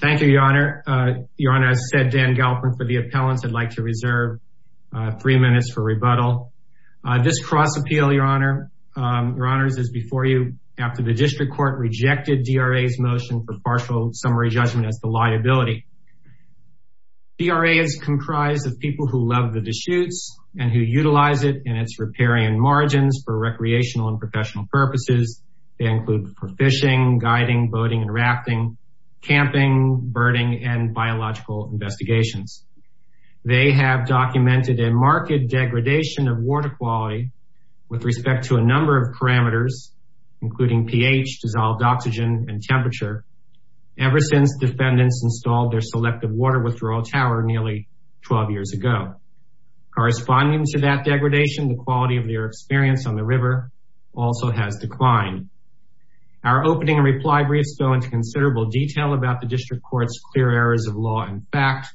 Thank you, Your Honor. Your Honor, as said, Dan Galperin for the appellants, I'd like to reserve three minutes for rebuttal. This cross appeal, Your Honors, is before you after the district court rejected DRA's motion for partial summary judgment as the liability. DRA is comprised of people who love the Deschutes and who utilize it in its riparian margins for recreational and professional purposes. They include for fishing, guiding, boating, and rafting, camping, birding, and biological investigations. They have documented a marked degradation of water quality with respect to a number of parameters, including pH, dissolved oxygen, and temperature, ever since defendants installed their selective water withdrawal tower nearly 12 years ago. Corresponding to that degradation, the quality of their experience on the river also has declined. Our opening and reply briefs go into considerable detail about the district court's clear errors of law and fact,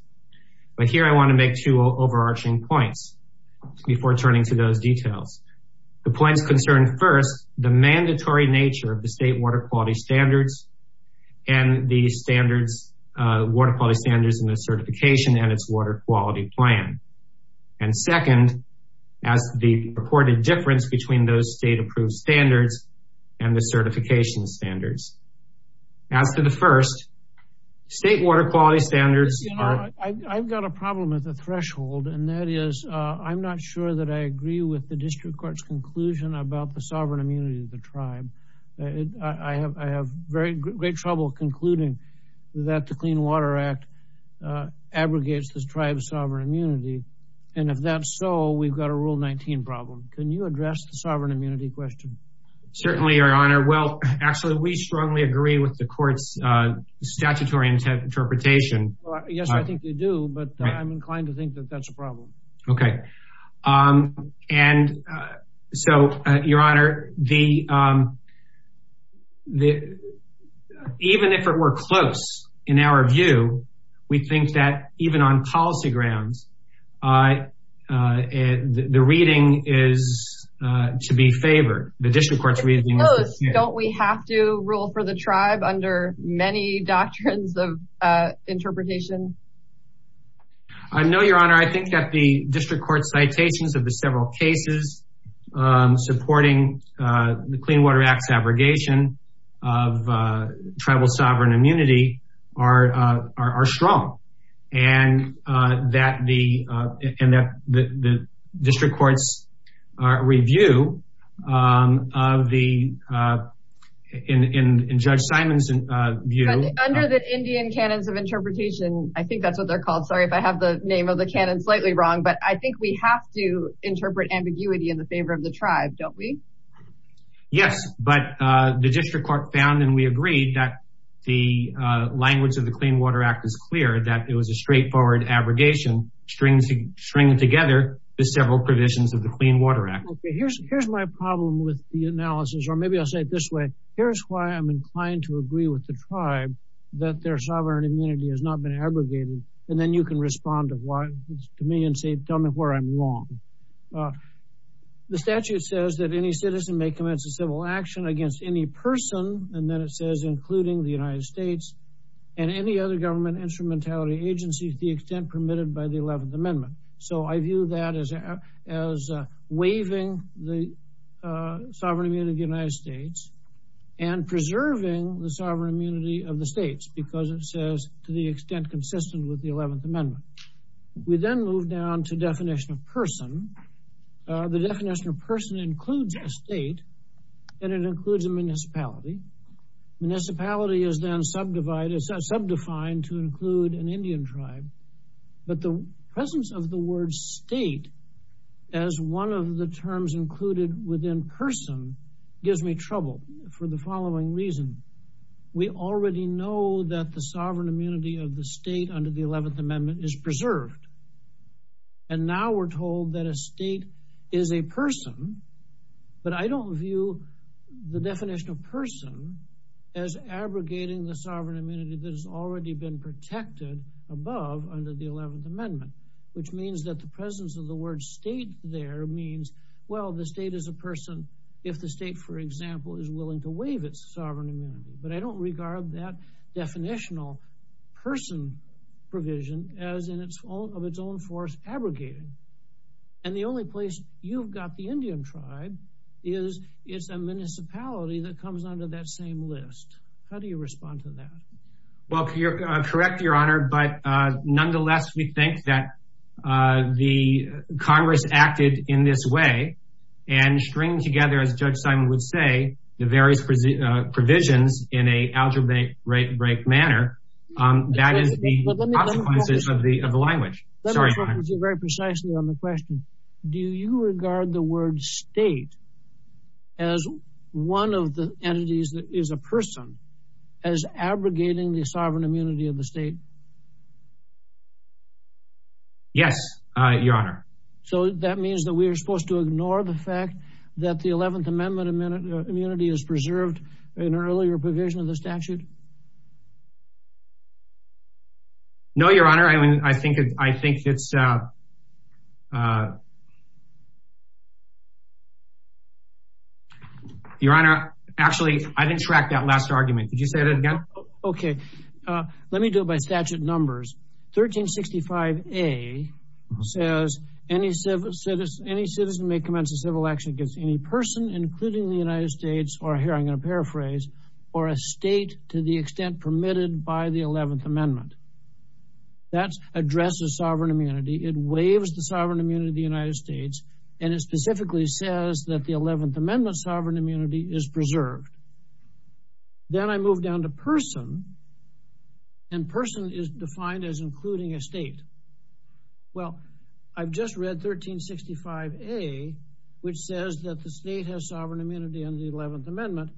but here I want to make two overarching points before turning to those details. The points concerned first, the mandatory nature of the state water quality standards and the standards, water quality standards in the certification and its water quality plan. And second, as the reported difference between those state approved standards and the certification standards. As to the first, state water quality standards are... I've got a problem with the threshold and that is, I'm not sure that I agree with the district court's conclusion about the sovereign immunity of the tribe. I have great trouble concluding that the Clean Water Act abrogates the tribe's sovereign immunity. And if that's so, we've got a rule 19 problem. Can you address the sovereign immunity question? Certainly, your honor. Well, actually, we strongly agree with the court's statutory interpretation. Yes, I think they do, but I'm inclined to think that that's a problem. Okay. And so, your honor, even if it were close, in our view, we think that even on policy grounds, the reading is to be favored, the district court's reading is to be favored. Don't we have to rule for the tribe under many doctrines of interpretation? I know, your honor. I think that the district court's citations of the several cases supporting the Clean Water Act's abrogation of tribal sovereign immunity are strong, and that the district court's review of the, in Judge Simon's view... Under the Indian canons of interpretation, I think that's what they're called. Sorry if I have the name of the canon slightly wrong, but I think we have to interpret ambiguity in the favor of the tribe, don't we? Yes, but the district court found, and we agreed, that the language of the Clean Water Act is clear, that it was a straightforward abrogation, stringing together the several provisions of the Clean Water Act. Okay. Here's my problem with the analysis, or maybe I'll say it this way. Here's why I'm inclined to agree with the tribe that their sovereign immunity has not been abrogated, and then you can respond to me and say, tell me where I'm wrong. The statute says that any citizen may commence a civil action against any person, and then it says, including the United States and any other government instrumentality agency to the extent permitted by the 11th Amendment. So I view that as waiving the sovereign immunity of the United States and preserving the sovereign immunity of the states, because it says, to the extent consistent with the 11th Amendment. We then move down to definition of person. The definition of person includes a state, and it includes a municipality. Municipality is then subdefined to include an Indian tribe. But the presence of the word state as one of the terms included within person gives me trouble for the following reason, we already know that the sovereign immunity of the state under the 11th Amendment is preserved, and now we're told that a state is a person, but I don't view the definition of person as abrogating the sovereign immunity that has already been protected above under the 11th Amendment, which means that the presence of the word state there means, well, the state is a person if the state, for example, is willing to waive its sovereign immunity, but I don't regard that definitional person provision as of its own force abrogating. And the only place you've got the Indian tribe is it's a municipality that comes under that same list. How do you respond to that? Well, you're correct, Your Honor, but nonetheless, we think that the Congress acted in this way and stringed together, as Judge Simon would say, the various provisions in an algebraic manner. That is the consequences of the language. Let me focus you very precisely on the question. Do you regard the word state as one of the entities that is a person as abrogating the sovereign immunity of the state? Yes, Your Honor. So that means that we are supposed to ignore the fact that the 11th Amendment immunity is preserved in an earlier provision of the statute? No, Your Honor. I mean, I think it's... Your Honor, actually, I didn't track that last argument. Could you say that again? Okay. Let me do it by statute numbers. 1365A says any citizen may commence a civil action against any person, including the United States, or here I'm going to paraphrase, or a state to the extent permitted by the 11th Amendment. That addresses sovereign immunity. It waives the sovereign immunity of the United States, and it specifically says that the 11th Amendment sovereign immunity is preserved. Then I move down to person, and person is defined as including a state. Well, I've just read 1365A, which says that the state has sovereign immunity under the 11th Amendment,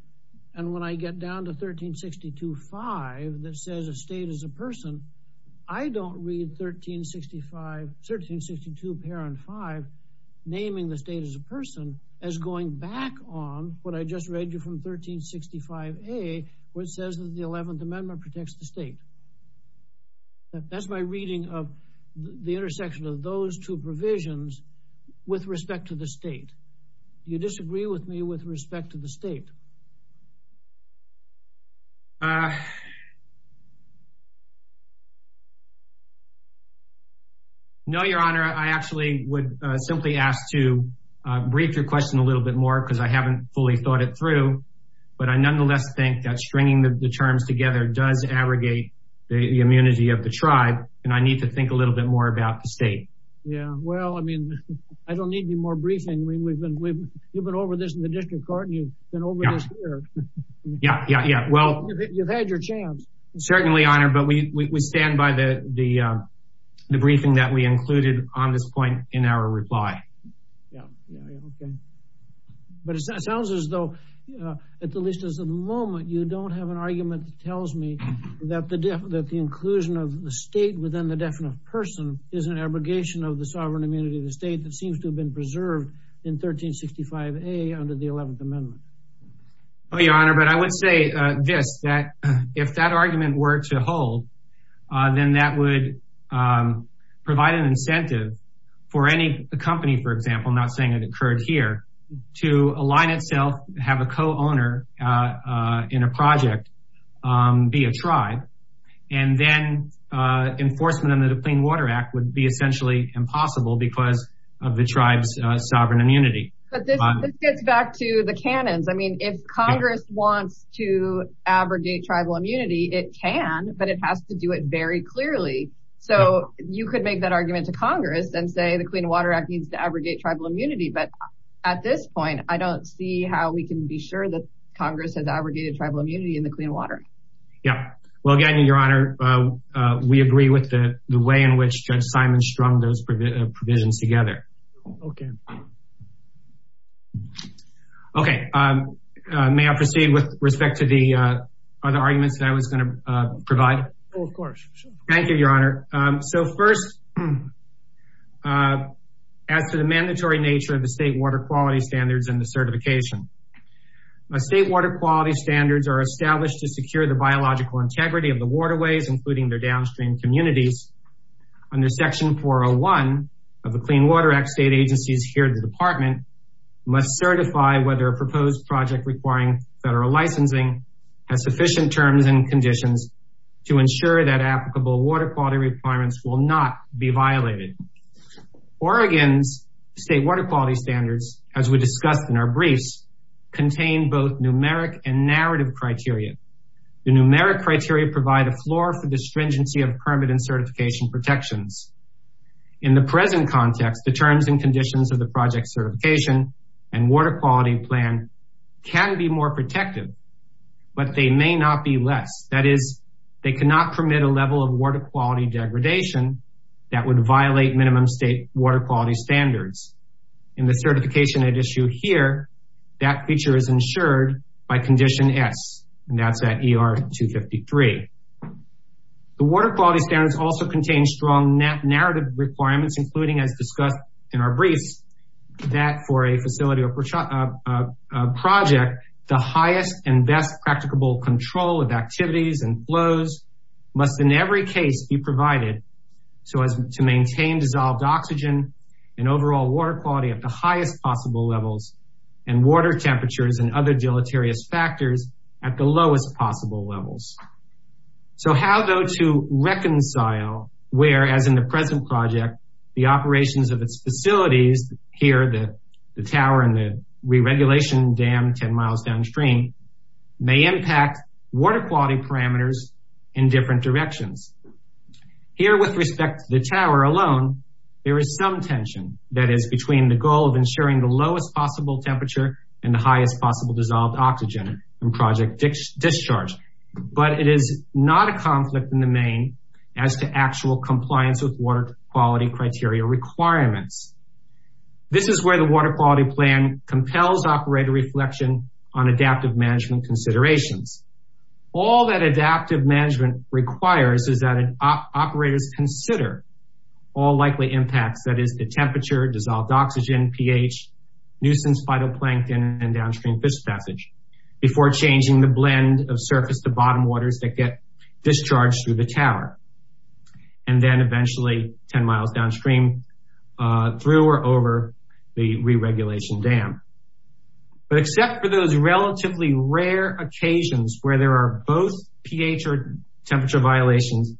and when I get down to 1362.5 that says a state is a person, I don't read 1362.5 naming the state as a person as going back on what I just read you from 1365A, which says that the 11th Amendment protects the state. That's my reading of the intersection of those two provisions with respect to the state. Do you disagree with me with respect to the state? No, Your Honor. I actually would simply ask to brief your question a little bit more because I haven't fully thought it through, but I nonetheless think that stringing the terms together does aggregate the immunity of the tribe, and I need to think a little bit more about the state. Yeah. Well, I mean, I don't need any more briefing. We've been, you've been over this in the district court, and you've been over this here. Yeah, yeah, yeah. Well, you've had your chance. Certainly, Your Honor, but we stand by the briefing that we included on this point in our reply. Okay. But it sounds as though, at the least as of the moment, you don't have an argument that tells me that the inclusion of the state within the definite person is an abrogation of the sovereign immunity of the state that seems to have been preserved in 1365A under the 11th Amendment. Oh, Your Honor, but I would say this, that if that argument were to hold, then that would provide an incentive for any company, for example, not saying it occurred here, to align in a project, be a tribe, and then enforcement under the Clean Water Act would be essentially impossible because of the tribe's sovereign immunity. But this gets back to the canons. I mean, if Congress wants to abrogate tribal immunity, it can, but it has to do it very clearly. So you could make that argument to Congress and say the Clean Water Act needs to abrogate tribal immunity. But at this point, I don't see how we can be sure that we're not abrogating tribal immunity in the clean water. Yeah. Well, Gagnon, Your Honor, we agree with the way in which Judge Simon strung those provisions together. Okay. Okay. May I proceed with respect to the other arguments that I was going to provide? Oh, of course. Thank you, Your Honor. So first, as to the mandatory nature of the state water quality standards and the certification, state water quality standards are established to secure the biological integrity of the waterways, including their downstream communities under section 401 of the Clean Water Act. State agencies here at the department must certify whether a proposed project requiring federal licensing has sufficient terms and conditions to ensure that applicable water quality requirements will not be violated. Oregon's state water quality standards, as we discussed in our briefs, contain both numeric and narrative criteria. The numeric criteria provide a floor for the stringency of permanent certification protections. In the present context, the terms and conditions of the project certification and water quality plan can be more protective, but they may not be less. That is, they cannot permit a level of water quality degradation that would violate minimum state water quality standards. In the certification at issue here, that feature is ensured by condition S, and that's at ER 253. The water quality standards also contain strong narrative requirements, including as discussed in our briefs, that for a facility or a project, the highest and best practicable control of activities and flows must in every case be provided so as to maintain dissolved oxygen and overall water quality at the highest possible levels and water temperatures and other deleterious factors at the lowest possible levels. So how, though, to reconcile where, as in the present project, the operations of its facilities here, the tower and the re-regulation dam 10 miles downstream, may impact water quality parameters in different directions. Here, with respect to the tower alone, there is some tension that is between the goal of ensuring the lowest possible temperature and the highest possible dissolved oxygen in project discharge, but it is not a conflict in the main as to actual compliance with water quality criteria requirements. This is where the water quality plan compels operator reflection on adaptive management considerations. All that adaptive management requires is that operators consider all likely impacts, that is the temperature, dissolved oxygen, pH, nuisance phytoplankton and downstream fish passage before changing the blend of surface to bottom waters that get discharged through the tower and then eventually 10 miles downstream through or over the re-regulation dam. But except for those relatively rare occasions where there are both pH or temperature violations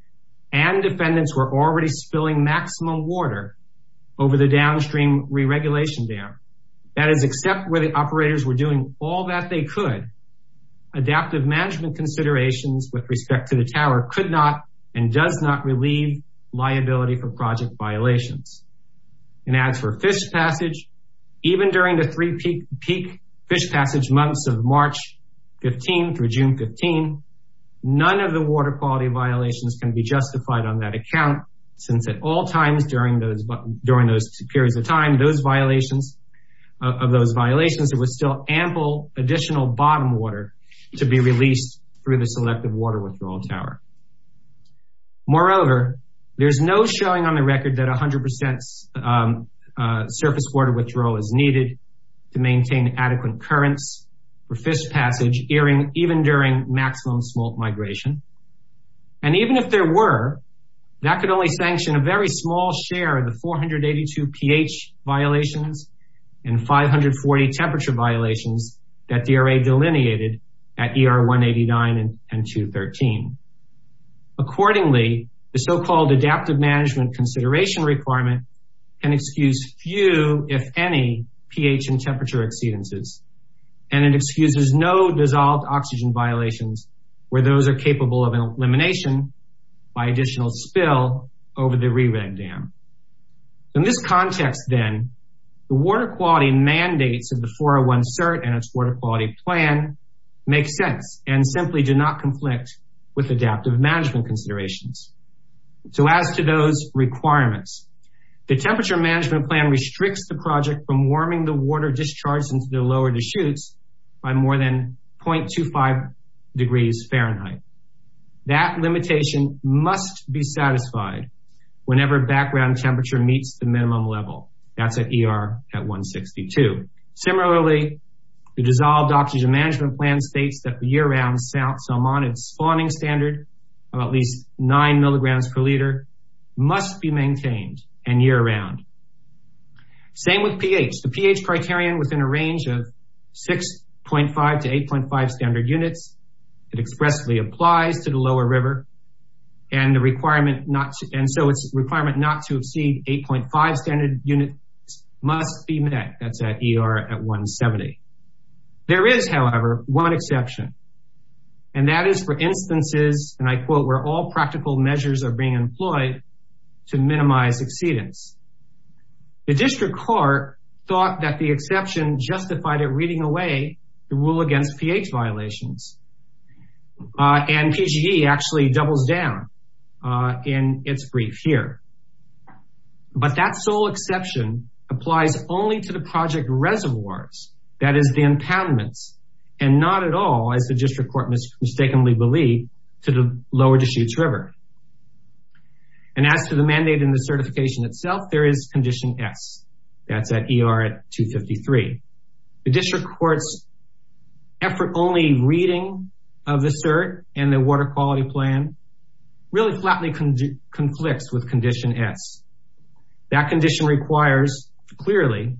and defendants were already spilling maximum water over the downstream re-regulation dam, that is, except where the operators were doing all that they could, adaptive management considerations with respect to the tower could not and does not relieve liability for project violations. And as for fish passage, even during the three peak fish passage months of March 15 through June 15, none of the water quality violations can be justified on that account since at all times during those periods of time, those violations, of those violations, it was still ample additional bottom water to be released through the selective water withdrawal tower. Moreover, there's no showing on the record that 100% surface water withdrawal is needed to maintain adequate currents for fish passage, even during maximum smolt migration. And even if there were, that could only sanction a very small share of the 482 pH violations and 540 temperature violations that DRA delineated at ER 189 and 213. Accordingly, the so-called adaptive management consideration requirement can excuse few, if any, pH and temperature exceedances, and it excuses no dissolved oxygen violations where those are capable of elimination by additional spill over the re-reg dam. In this context, then, the water quality mandates of the 401-CERT and its water quality plan make sense and simply do not conflict with adaptive management considerations. So as to those requirements, the temperature management plan restricts the project from warming the water discharged into the lower deschutes by more than 0.25 degrees Fahrenheit. That limitation must be satisfied whenever background temperature meets the minimum level, that's at ER at 162. Similarly, the dissolved oxygen management plan states that the year-round Salmonid spawning standard of at least nine milligrams per liter must be maintained and year-round. Same with pH, the pH criterion within a range of 6.5 to 8.5 standard units, it expressly applies to the lower river and the requirement not to, and so it's requirement not to exceed 8.5 standard units must be met, that's at ER at 170. There is, however, one exception, and that is for instances, and I quote, where all practical measures are being employed to minimize exceedance. The district court thought that the exception justified it reading away the rule against pH violations, and PGE actually doubles down in its brief here. But that sole exception applies only to the project reservoirs that is the impoundments, and not at all as the district court mistakenly believed to the lower Deschutes River. And as to the mandate in the certification itself, there is condition S, that's at ER at 253. The district court's effort only reading of the cert and the water quality plan really flatly conflicts with condition S. That condition requires clearly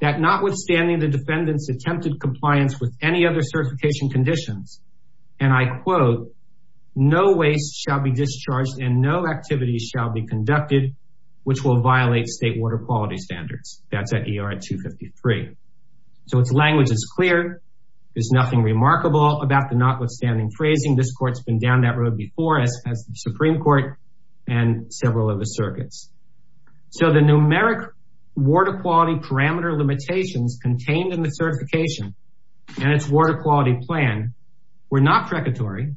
that not withstanding the defendant's attempted compliance with any other certification conditions, and I quote, no waste shall be discharged and no activities shall be conducted, which will violate state water quality standards, that's at ER at 253. So its language is clear, there's nothing remarkable about the notwithstanding phrasing, this court's been down that road before us as the Supreme Court and several of the circuits. So the numeric water quality parameter limitations contained in the certification and its water quality plan were not precatory,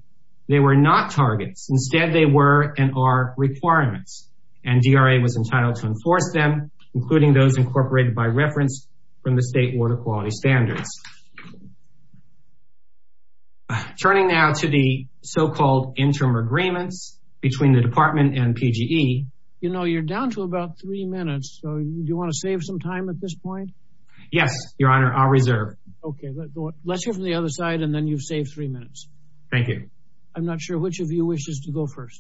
they were not targets, instead they were and are requirements and DRA was entitled to enforce them, including those incorporated by reference from the state water quality standards. Turning now to the so-called interim agreements between the department and PGE. You know, you're down to about three minutes, so do you want to save some time at this point? Yes, Your Honor, I'll reserve. Okay, let's hear from the other side and then you've saved three minutes. Thank you. I'm not sure which of you wishes to go first.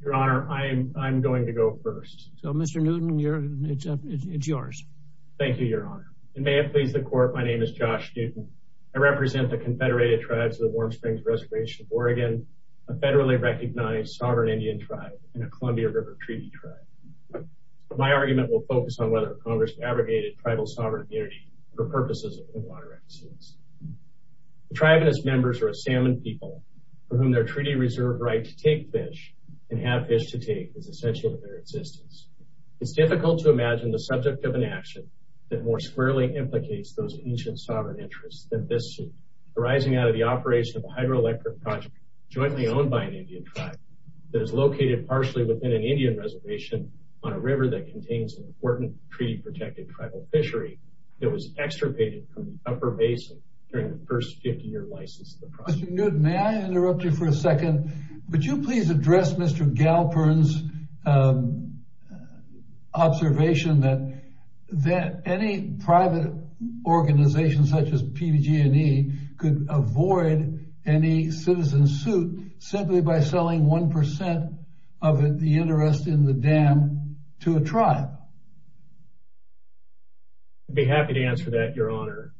Your Honor, I'm going to go first. So Mr. Newton, it's yours. Thank you, Your Honor. And may it please the court, my name is Josh Newton. I represent the Confederated Tribes of the Warm Springs Reservation of Oregon, a federally recognized sovereign Indian tribe and a Columbia River Treaty tribe. My argument will focus on whether Congress abrogated tribal sovereign immunity for purposes of clean water accidents. The tribe and its members are a salmon people for whom their treaty reserve right to take fish and have fish to take is essential to their existence. It's difficult to imagine the subject of an action that more squarely implicates those ancient sovereign interests than this suit arising out of the operation of a hydroelectric project jointly owned by an Indian tribe that is located partially within an Indian reservation on a river that contains an important treaty protected tribal fishery that was extirpated from the upper basin during the first 50 year license. Mr. Newton, may I interrupt you for a second? Would you please address Mr. Galperin's observation that that any private organization such as PG&E could avoid any citizen suit simply by selling one percent of the interest in the dam to a tribe? I'd be happy to answer that, Your Honor.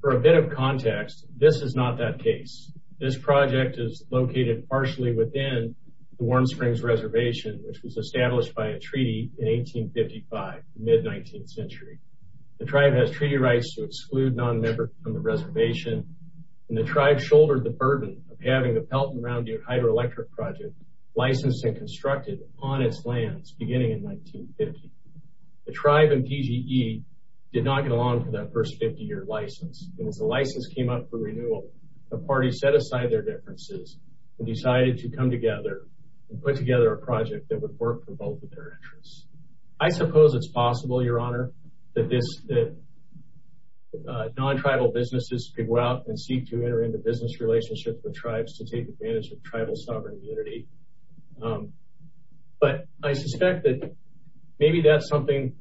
For a bit of context, this is not that case. This project is located partially within the Warm Springs Reservation, which was established by a treaty in 1855, mid 19th century. The tribe has treaty rights to exclude non-member from the reservation, and the tribe shouldered the burden of having the Pelton Round Deer hydroelectric project licensed and constructed on its lands beginning in 1950. The tribe and PG&E did not get along for that first 50 year license. And as the license came up for renewal, the party set aside their differences and decided to come together and put together a project that would work for both of their interests. I suppose it's possible, Your Honor, that non-tribal businesses could go out and seek to enter into business relationships with tribes to take advantage of tribal sovereign immunity. But I suspect that maybe that's something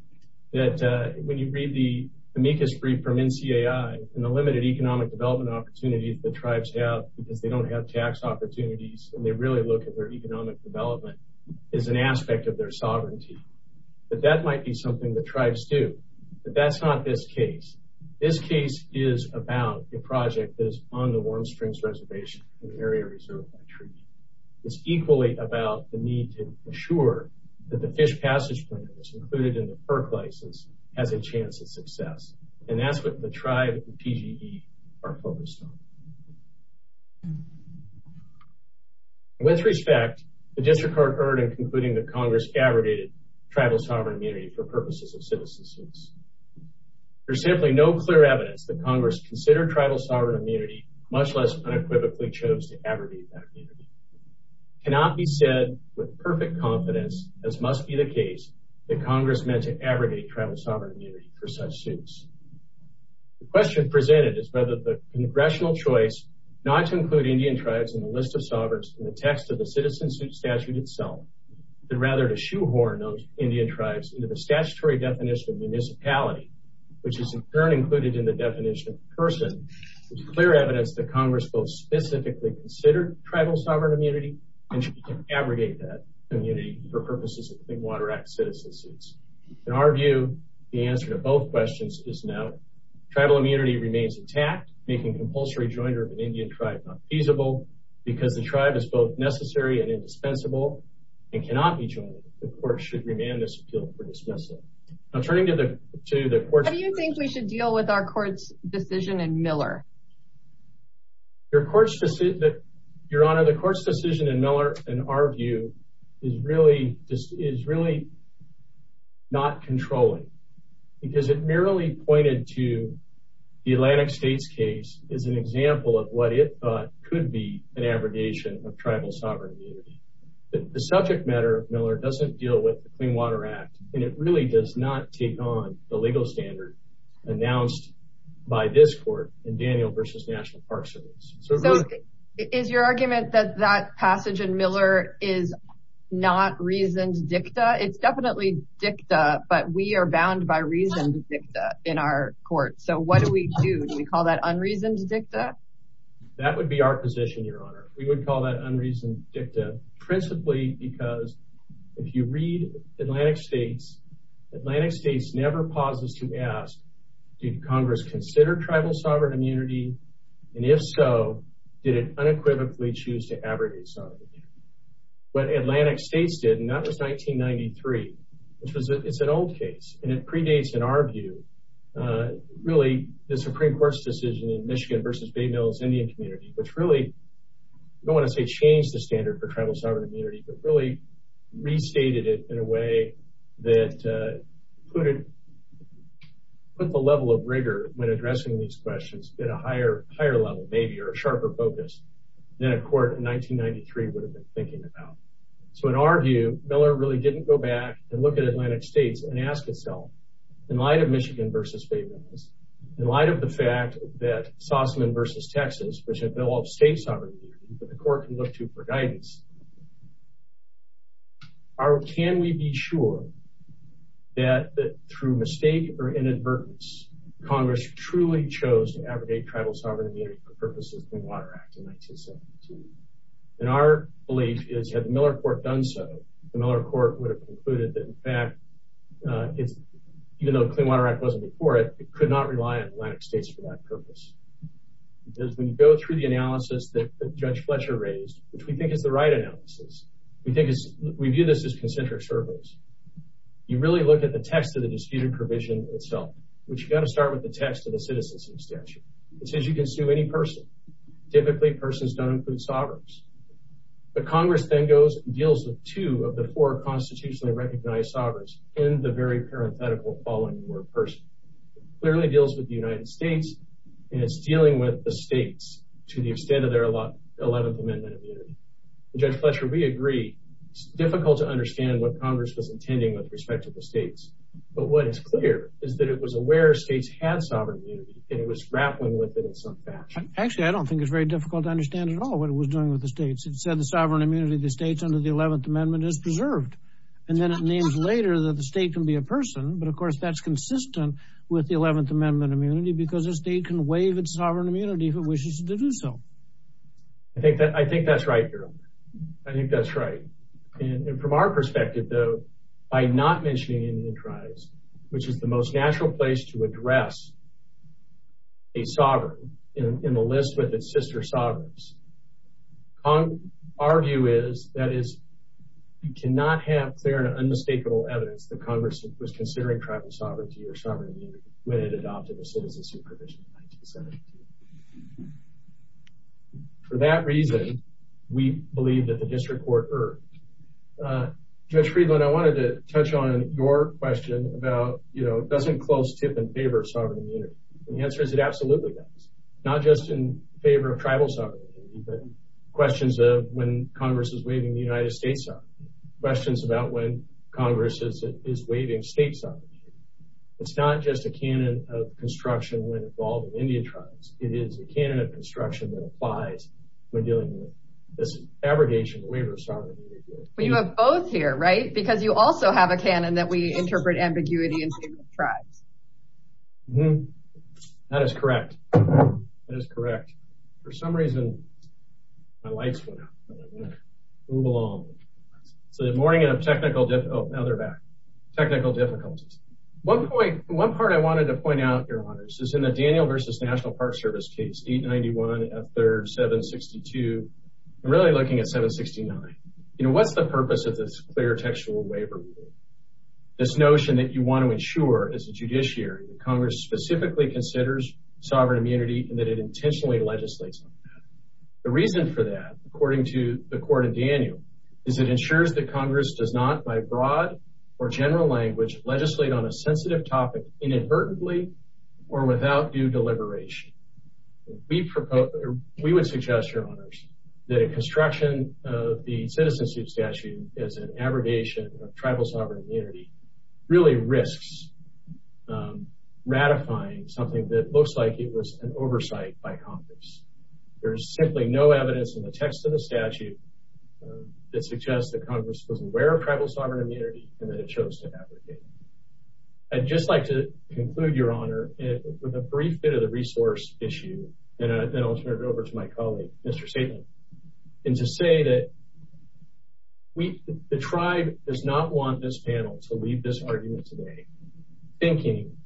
that when you read the amicus brief from NCAI and the limited economic development opportunities the tribes have because they don't have tax opportunities and they really look at their economic development as an aspect of their sovereignty, that that might be something the tribes do. But that's not this case. This case is about a project that is on the Warm Springs Reservation, an area reserved by treaty. It's equally about the need to ensure that the fish passage plan that was included in the PERC license has a chance at success. And that's what the tribe and PG&E are focused on. With respect, the district heard in concluding that Congress abrogated tribal sovereign immunity for purposes of citizen suits. There's simply no clear evidence that Congress considered tribal sovereign immunity, much less unequivocally chose to abrogate that immunity. It cannot be said with perfect confidence, as must be the case, that Congress meant to abrogate tribal sovereign immunity for such suits. The question presented is whether the congressional choice not to include Indian tribes in the list of sovereigns in the text of the citizen suit statute itself, but rather to horn those Indian tribes into the statutory definition of municipality, which is in turn included in the definition of person, is clear evidence that Congress both specifically considered tribal sovereign immunity and should abrogate that immunity for purposes of the Clean Water Act citizen suits. In our view, the answer to both questions is no. Tribal immunity remains intact, making compulsory joiner of an Indian tribe not feasible, because the tribe is both courts should remain this appeal for dismissal. I'm turning to the to the court. Do you think we should deal with our court's decision and Miller? Your court's decision that your honor the court's decision and Miller and our view is really just is really not controlling because it merely pointed to the Atlantic States case is an example of what it could be an abrogation of tribal sovereign The subject matter of Miller doesn't deal with the Clean Water Act. And it really does not take on the legal standard announced by this court in Daniel versus National Park Service. Is your argument that that passage in Miller is not reasoned dicta? It's definitely dicta, but we are bound by reasoned dicta in our court. So what do we do? Do we call that unreasoned dicta? That would be our position, Your Honor, we would call that unreasoned dicta, principally because if you read Atlantic States, Atlantic States never pauses to ask, did Congress consider tribal sovereign immunity? And if so, did it unequivocally choose to abrogate sovereignty? What Atlantic States did, and that was 1993, which is an old case, and it predates, in our view, really the Supreme Court's decision in Michigan versus Bay Mills Indian community, which really, I don't want to say change the standard for tribal sovereign immunity, but really restated it in a way that put it, put the level of rigor when addressing these questions at a higher level, maybe, or a sharper focus than a court in 1993 would have been thinking about. So in our view, Miller really didn't go back and look at Atlantic States and ask itself, in light of Michigan versus Bay Mills, in light of the fact that Sussman versus Texas, which have developed state sovereignty, but the court can look to for guidance, can we be sure that through mistake or inadvertence, Congress truly chose to abrogate tribal sovereign immunity for purposes of the Clean Water Act in 1972? And our belief is, had the Miller Court done so, the Miller Court would have concluded that, in fact, even though the Clean Water Act wasn't before it, it could not rely on Atlantic States for that purpose. Because when you go through the analysis that Judge Fletcher raised, which we think is the right analysis, we view this as concentric circles. You really look at the text of the disputed provision itself, which you got to start with the text of the citizenship statute. It says you can sue any person. Typically, persons don't include sovereigns. But Congress then goes and deals with two of the four constitutionally recognized sovereigns in the very parenthetical following word, person. Clearly deals with the United States, and it's dealing with the states to the extent of their 11th Amendment immunity. Judge Fletcher, we agree, it's difficult to understand what Congress was intending with respect to the states. But what is clear is that it was aware states had sovereign immunity, and it was grappling with it in some fashion. Actually, I don't think it's very difficult to understand at all what it was doing with the states. It said the sovereign immunity of the states under the 11th Amendment is preserved. And then it names later that the state can be a person. But of course, that's consistent with the 11th Amendment immunity, because a state can waive its sovereign immunity if it wishes to do so. I think that's right, Harold. I think that's right. And from our perspective, though, by not mentioning Indian tribes, which is the most natural place to address a sovereign in the list with its sister sovereigns, our view is that you cannot have clear and unmistakable evidence that Congress was considering tribal sovereignty or sovereign immunity when it adopted the Citizenship Provision in 1917. For that reason, we believe that the district court erred. Judge Friedland, I wanted to touch on your question about, you know, doesn't close tip in favor of sovereign immunity? And the answer is it absolutely does, not just in favor of tribal sovereignty, but questions of when Congress is waiving the United States' sovereignty, questions about when Congress is waiving states' sovereignty. It's not just a canon of construction when involved in Indian tribes. It is a canon of construction that applies when dealing with this abrogation of the waiver of sovereignty. Well, you have both here, right? Because you also have a canon that we interpret ambiguity in states and tribes. That is correct. That is correct. For some reason, my lights went out. Move along. So the morning of technical, oh, now they're back, technical difficulties. One point, one part I wanted to point out, Your Honors, is in the Daniel v. National Park Service case, 891 F. 3rd, 762, I'm really looking at 769. You know, what's the purpose of this clear textual waiver? This notion that you want to ensure as a judiciary that Congress specifically considers sovereign immunity and that it intentionally legislates on that. The reason for that, according to the court in Daniel, is it ensures that Congress does not, by broad or general language, legislate on a sensitive topic inadvertently or without due deliberation. We would suggest, Your Honors, that a construction of the citizenship statute as an abrogation of tribal sovereign immunity really risks ratifying something that looks like it was an oversight by Congress. There's simply no evidence in the text of the statute that suggests that Congress was aware of tribal sovereign immunity and that it chose to abrogate it. I'd just like to conclude, Your Honor, with a brief bit of the resource issue, and then I'll turn it over to my colleague, Mr. Stateland, and to say that the tribe does not want this panel to leave this argument today thinking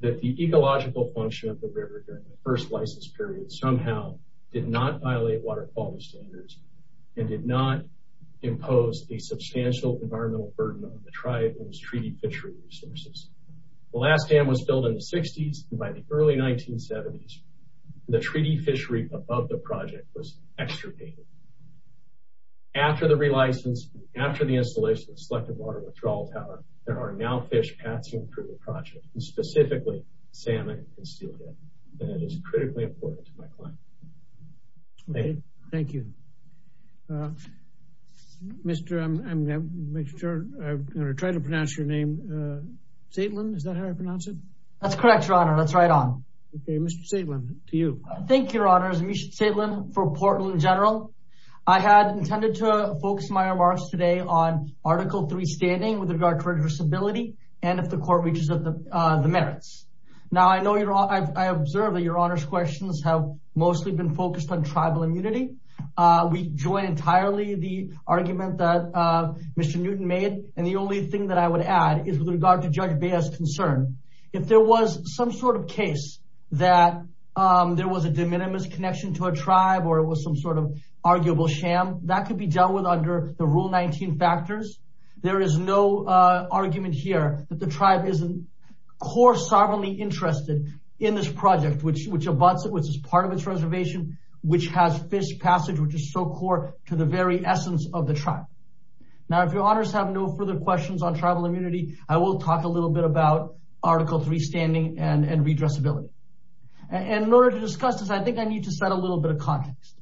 that the ecological function of the river during the first license period somehow did not violate water quality standards and did not impose a substantial environmental burden on the tribe and its treaty fishery resources. The last dam was built in the 60s, and by the early 1970s, the treaty fishery above the project was extirpated. After the installation of the Selective Water Withdrawal Tower, there are now fish passing through the project, and that is critically important to my client. Thank you. Mr. I'm going to try to pronounce your name. Stateland, is that how I pronounce it? That's correct, Your Honor. That's right on. Okay. Mr. Stateland, to you. Thank you, Your Honors. Amish Stateland for Portland General. I had intended to focus my remarks today on Article III standing with regard to reversibility and if the court reaches the merits. Now, I observe that Your Honor's questions have mostly been focused on tribal immunity. We join entirely the argument that Mr. Newton made, and the only thing that I would add is with regard to Judge Bea's concern. If there was some sort of case that there was a de minimis connection to a tribe or it was some sort of arguable sham, that could be dealt with under the Rule 19 factors. There is no argument here that the tribe isn't core sovereignly interested in this project, which abuts it, which is part of its reservation, which has fish passage, which is so core to the very essence of the tribe. Now, if Your Honors have no further questions on tribal immunity, I will talk a little bit about Article III standing and redressability. And in order to discuss this, I think I need to set a little bit of context.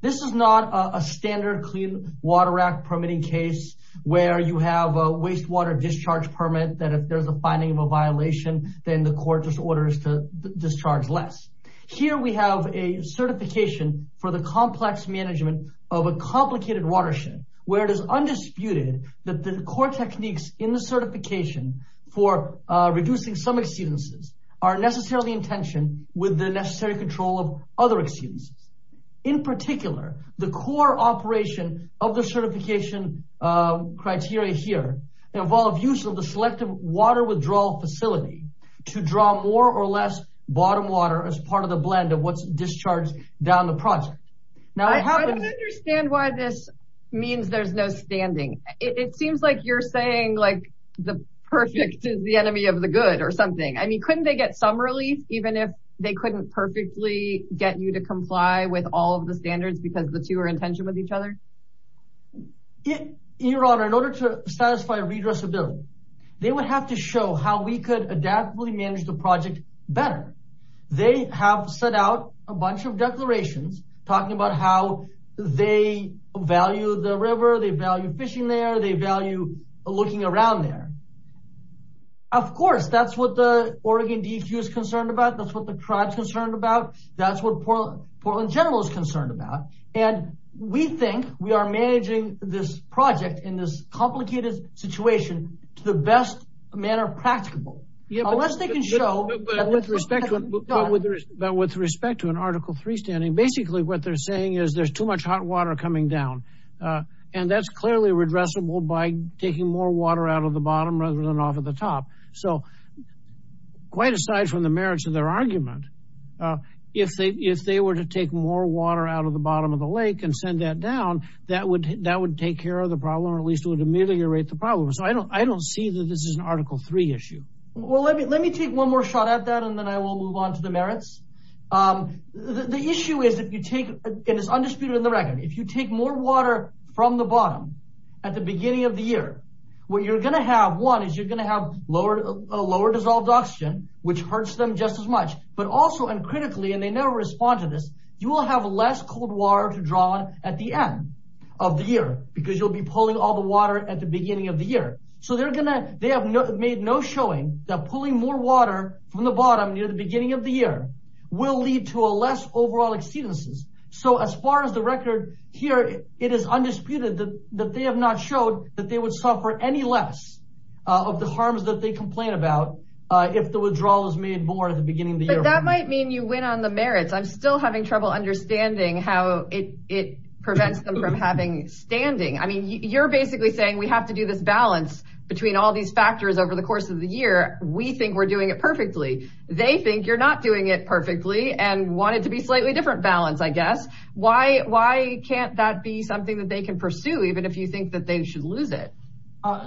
This is not a standard Clean Water Act permitting case where you have a wastewater discharge permit that if there's a finding of a violation, then the court just orders to discharge less. Here we have a certification for the complex management of a complicated watershed where it is undisputed that the core techniques in the certification for reducing some exceedances are necessarily in tension with the necessary control of other exceedances. In particular, the core operation of the certification criteria here involve use of the selective water withdrawal facility to draw more or less bottom water as part of the blend of what's discharged down the project. Now, I don't understand why this means there's no standing. It seems like you're saying like the perfect is the enemy of the good or something. I mean, couldn't they get some relief, even if they couldn't perfectly get you to comply with all of the standards because the two are in tension with each other? Your Honor, in order to satisfy redressability, they would have to show how we could adaptively manage the project better. They have set out a bunch of declarations talking about how they value the river. They value fishing there. They value looking around there. Of course, that's what the Oregon DEQ is concerned about. That's what the tribe is concerned about. That's what Portland General is concerned about. And we think we are managing this project in this complicated situation to the best manner practicable, unless they can show. But with respect to an Article 3 standing, basically what they're saying is there's too much hot water coming down, and that's clearly redressable by taking more water out of the bottom rather than off at the top. So quite aside from the merits of their argument, if they were to take more water out of the bottom of the lake and send that down, that would take care of the problem, or at least it would ameliorate the problem. So I don't see that this is an Article 3 issue. Well, let me take one more shot at that, and then I will move on to the merits. The issue is if you take, and it's undisputed in the record, if you take more water from the bottom at the beginning of the year, what you're going to have, one, is you're going to have a lower dissolved oxygen, which hurts them just as much, but also, and critically, and they never respond to this, you will have less cold water to draw on at the end of the year because you'll be pulling all the water at the beginning of the year. So they're going to they have made no showing that pulling more water from the bottom near the beginning of the year will lead to a less overall exceedances. So as far as the record here, it is undisputed that they have not showed that they would suffer any less of the harms that they complain about if the withdrawal is made more at the beginning of the year. But that might mean you win on the merits. I'm still having trouble understanding how it prevents them from having standing. I mean, you're basically saying we have to do this balance between all these factors over the course of the year. We think we're doing it perfectly. They think you're not doing it perfectly and want it to be slightly different balance, I guess. Why can't that be something that they can pursue, even if you think that they should lose it?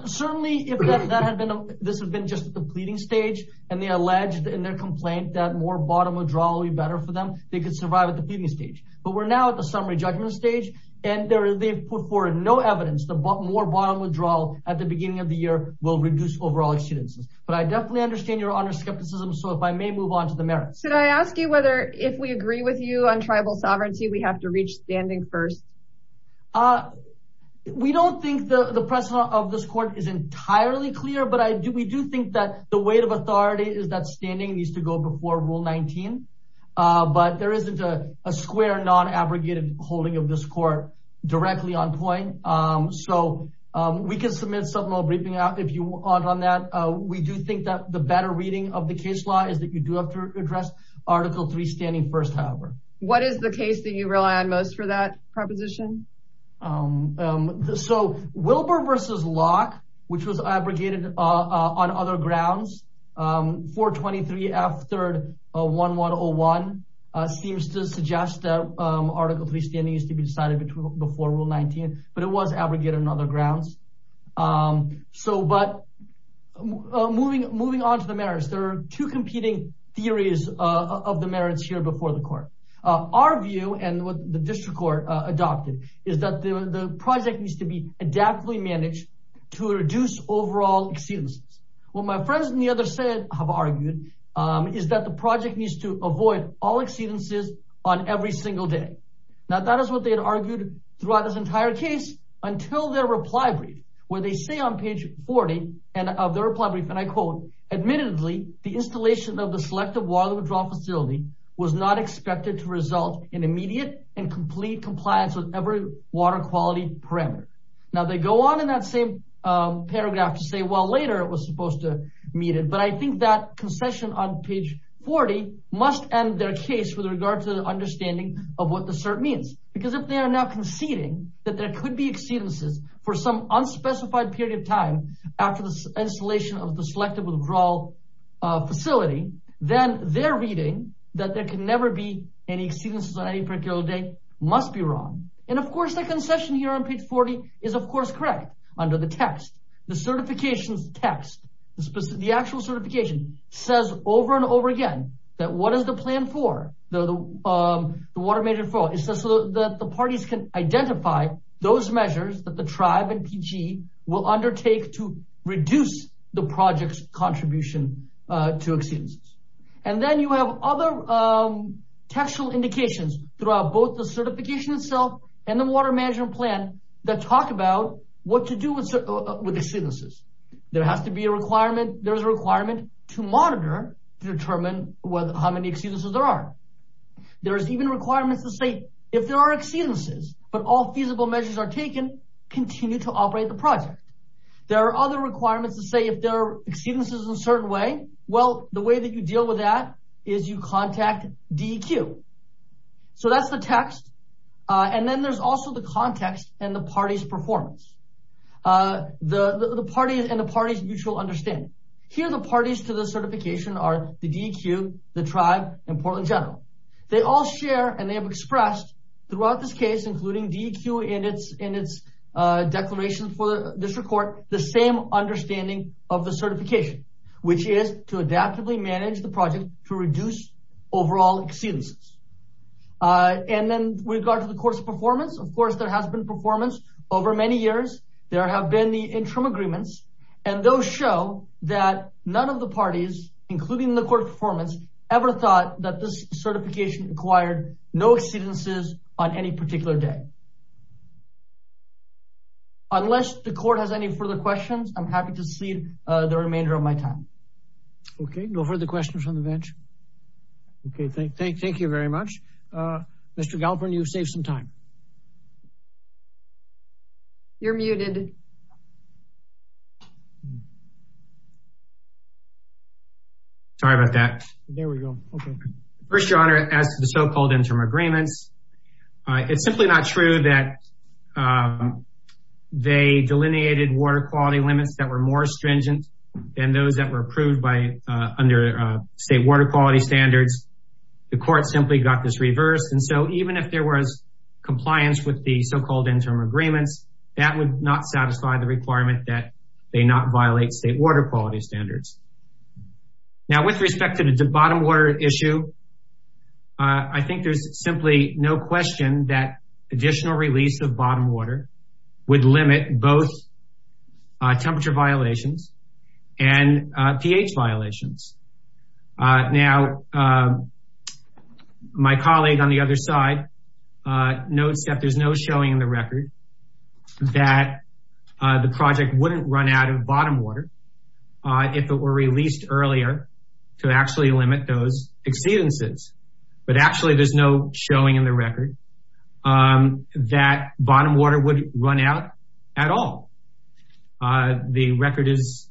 Certainly, if that had been this has been just the pleading stage and they alleged in their complaint that more bottom withdrawal would be better for them, they could survive at the pleading stage. But we're now at the summary judgment stage. And they've put forward no evidence that more bottom withdrawal at the beginning of the year will reduce overall exceedances. But I definitely understand your honor's skepticism. So if I may move on to the merits. Should I ask you whether if we agree with you on tribal sovereignty, we have to reach standing first? Uh, we don't think the precedent of this court is entirely clear, but we do think that the weight of authority is that standing needs to go before Rule 19, but there isn't a square non-abrogated holding of this court directly on point. So we can submit some more briefing if you want on that. We do think that the better reading of the case law is that you do have to address Article three standing first, however. What is the case that you rely on most for that proposition? So Wilbur versus Locke, which was abrogated on other grounds for 23 after one one oh one seems to suggest that Article three standing used to be decided before Rule 19, but it was abrogated on other grounds. So but moving moving on to the merits, there are two competing theories of the merits here before the court. Our view and what the district court adopted is that the project needs to be adaptively managed to reduce overall exceedances. Well, my friends in the other side have argued is that the project needs to avoid all exceedances on every single day. Now, that is what they had argued throughout this entire case until their reply brief, where they say on page 40 of their reply brief, and I quote, admittedly, the installation of the selective water facility was not expected to result in immediate and complete compliance with every water quality parameter. Now they go on in that same paragraph to say, well, later it was supposed to meet it. But I think that concession on page 40 must end their case with regard to the understanding of what the cert means, because if they are now conceding that there could be exceedances for some unspecified period of time after the installation of the selective withdrawal facility, then they're reading that there can never be any exceedances on any particular day must be wrong. And of course, the concession here on page 40 is, of course, correct. Under the text, the certifications text, the actual certification says over and over again that what is the plan for the water major? It says that the parties can identify those measures that the tribe and PG will undertake to reduce the project's contribution to exceedance. And then you have other textual indications throughout both the certification itself and the water management plan that talk about what to do with exceedances. There has to be a requirement. There's a requirement to monitor to determine how many exceedances there are. There's even requirements to say if there are exceedances, but all feasible measures are taken, continue to operate the project. There are other requirements to say if there are exceedances in a certain way. Well, the way that you deal with that is you contact DEQ. So that's the text. And then there's also the context and the party's performance, the parties and the parties mutual understanding. Here, the parties to the certification are the DEQ, the tribe and Portland General. They all share and they have expressed throughout this case including DEQ in its in its declaration for this report, the same understanding of the certification, which is to adaptively manage the project to reduce overall exceedances. And then with regard to the court's performance, of course, there has been performance over many years. There have been the interim agreements, and those show that none of the parties, including the court performance, ever thought that this certification acquired no exceedances on any particular day. Unless the court has any further questions, I'm happy to cede the remainder of my time. OK, no further questions from the bench. OK, thank thank thank you very much. Mr. Galperin, you've saved some time. You're muted. Sorry about that. There we go. First, Your Honor, as to the so-called interim agreements, it's simply not true that they delineated water quality limits that were more stringent than those that were approved by under state water quality standards. The court simply got this reversed. And so even if there was compliance with the so-called interim agreements, that would not satisfy the requirement that they not violate state water quality standards. Now, with respect to the bottom water issue, I think there's simply no question that additional release of bottom water would limit both temperature violations and pH violations. Now, my colleague on the other side notes that there's no showing in the record that the project wouldn't run out of bottom water if it were released earlier to actually limit those exceedances. But actually, there's no showing in the record that bottom water would run out at all. The record is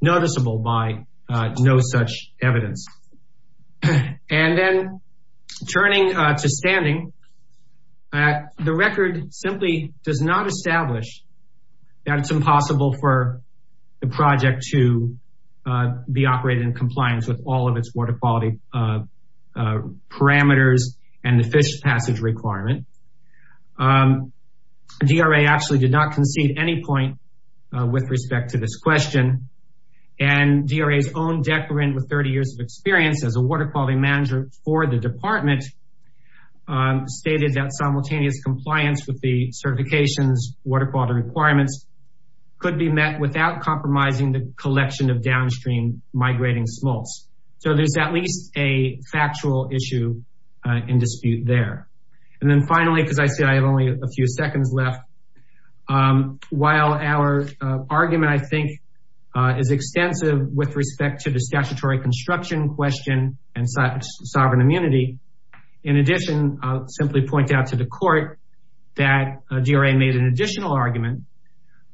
noticeable by no such evidence. And then turning to standing, the record simply does not establish that it's impossible for the project to be operated in compliance with all of its water quality parameters and the fish passage requirement. DRA actually did not concede any point with respect to this question. And DRA's own decorant with 30 years of experience as a water quality manager for the department stated that simultaneous compliance with the certification's water quality requirements could be met without compromising the collection of downstream migrating smolts. So there's at least a factual issue in dispute there. And then finally, because I see I have only a few seconds left, while our argument, I think, is extensive with respect to the statutory construction question and sovereign immunity, in addition, I'll simply point out to the court, that DRA made an additional argument.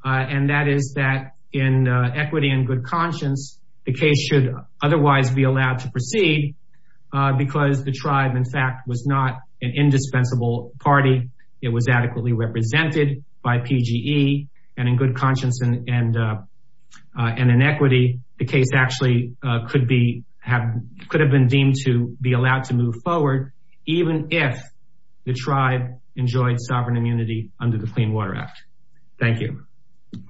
And that is that in equity and good conscience, the case should otherwise be allowed to proceed because the tribe, in fact, was not an indispensable party. It was adequately represented by PGE. And in good conscience and in equity, the case actually could have been deemed to be allowed to move forward even if the tribe enjoyed sovereign immunity under the Clean Water Act. Thank you.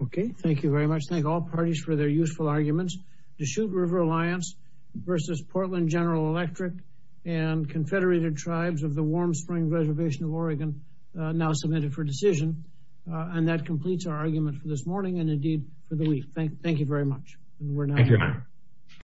Okay. Thank you very much. Thank all parties for their useful arguments. The Chute River Alliance versus Portland General Electric and Confederated Tribes of the Warm Springs Reservation of Oregon now submitted for decision. And that completes our argument for this morning and indeed for the week. Thank you very much. Thank you, Your Honor.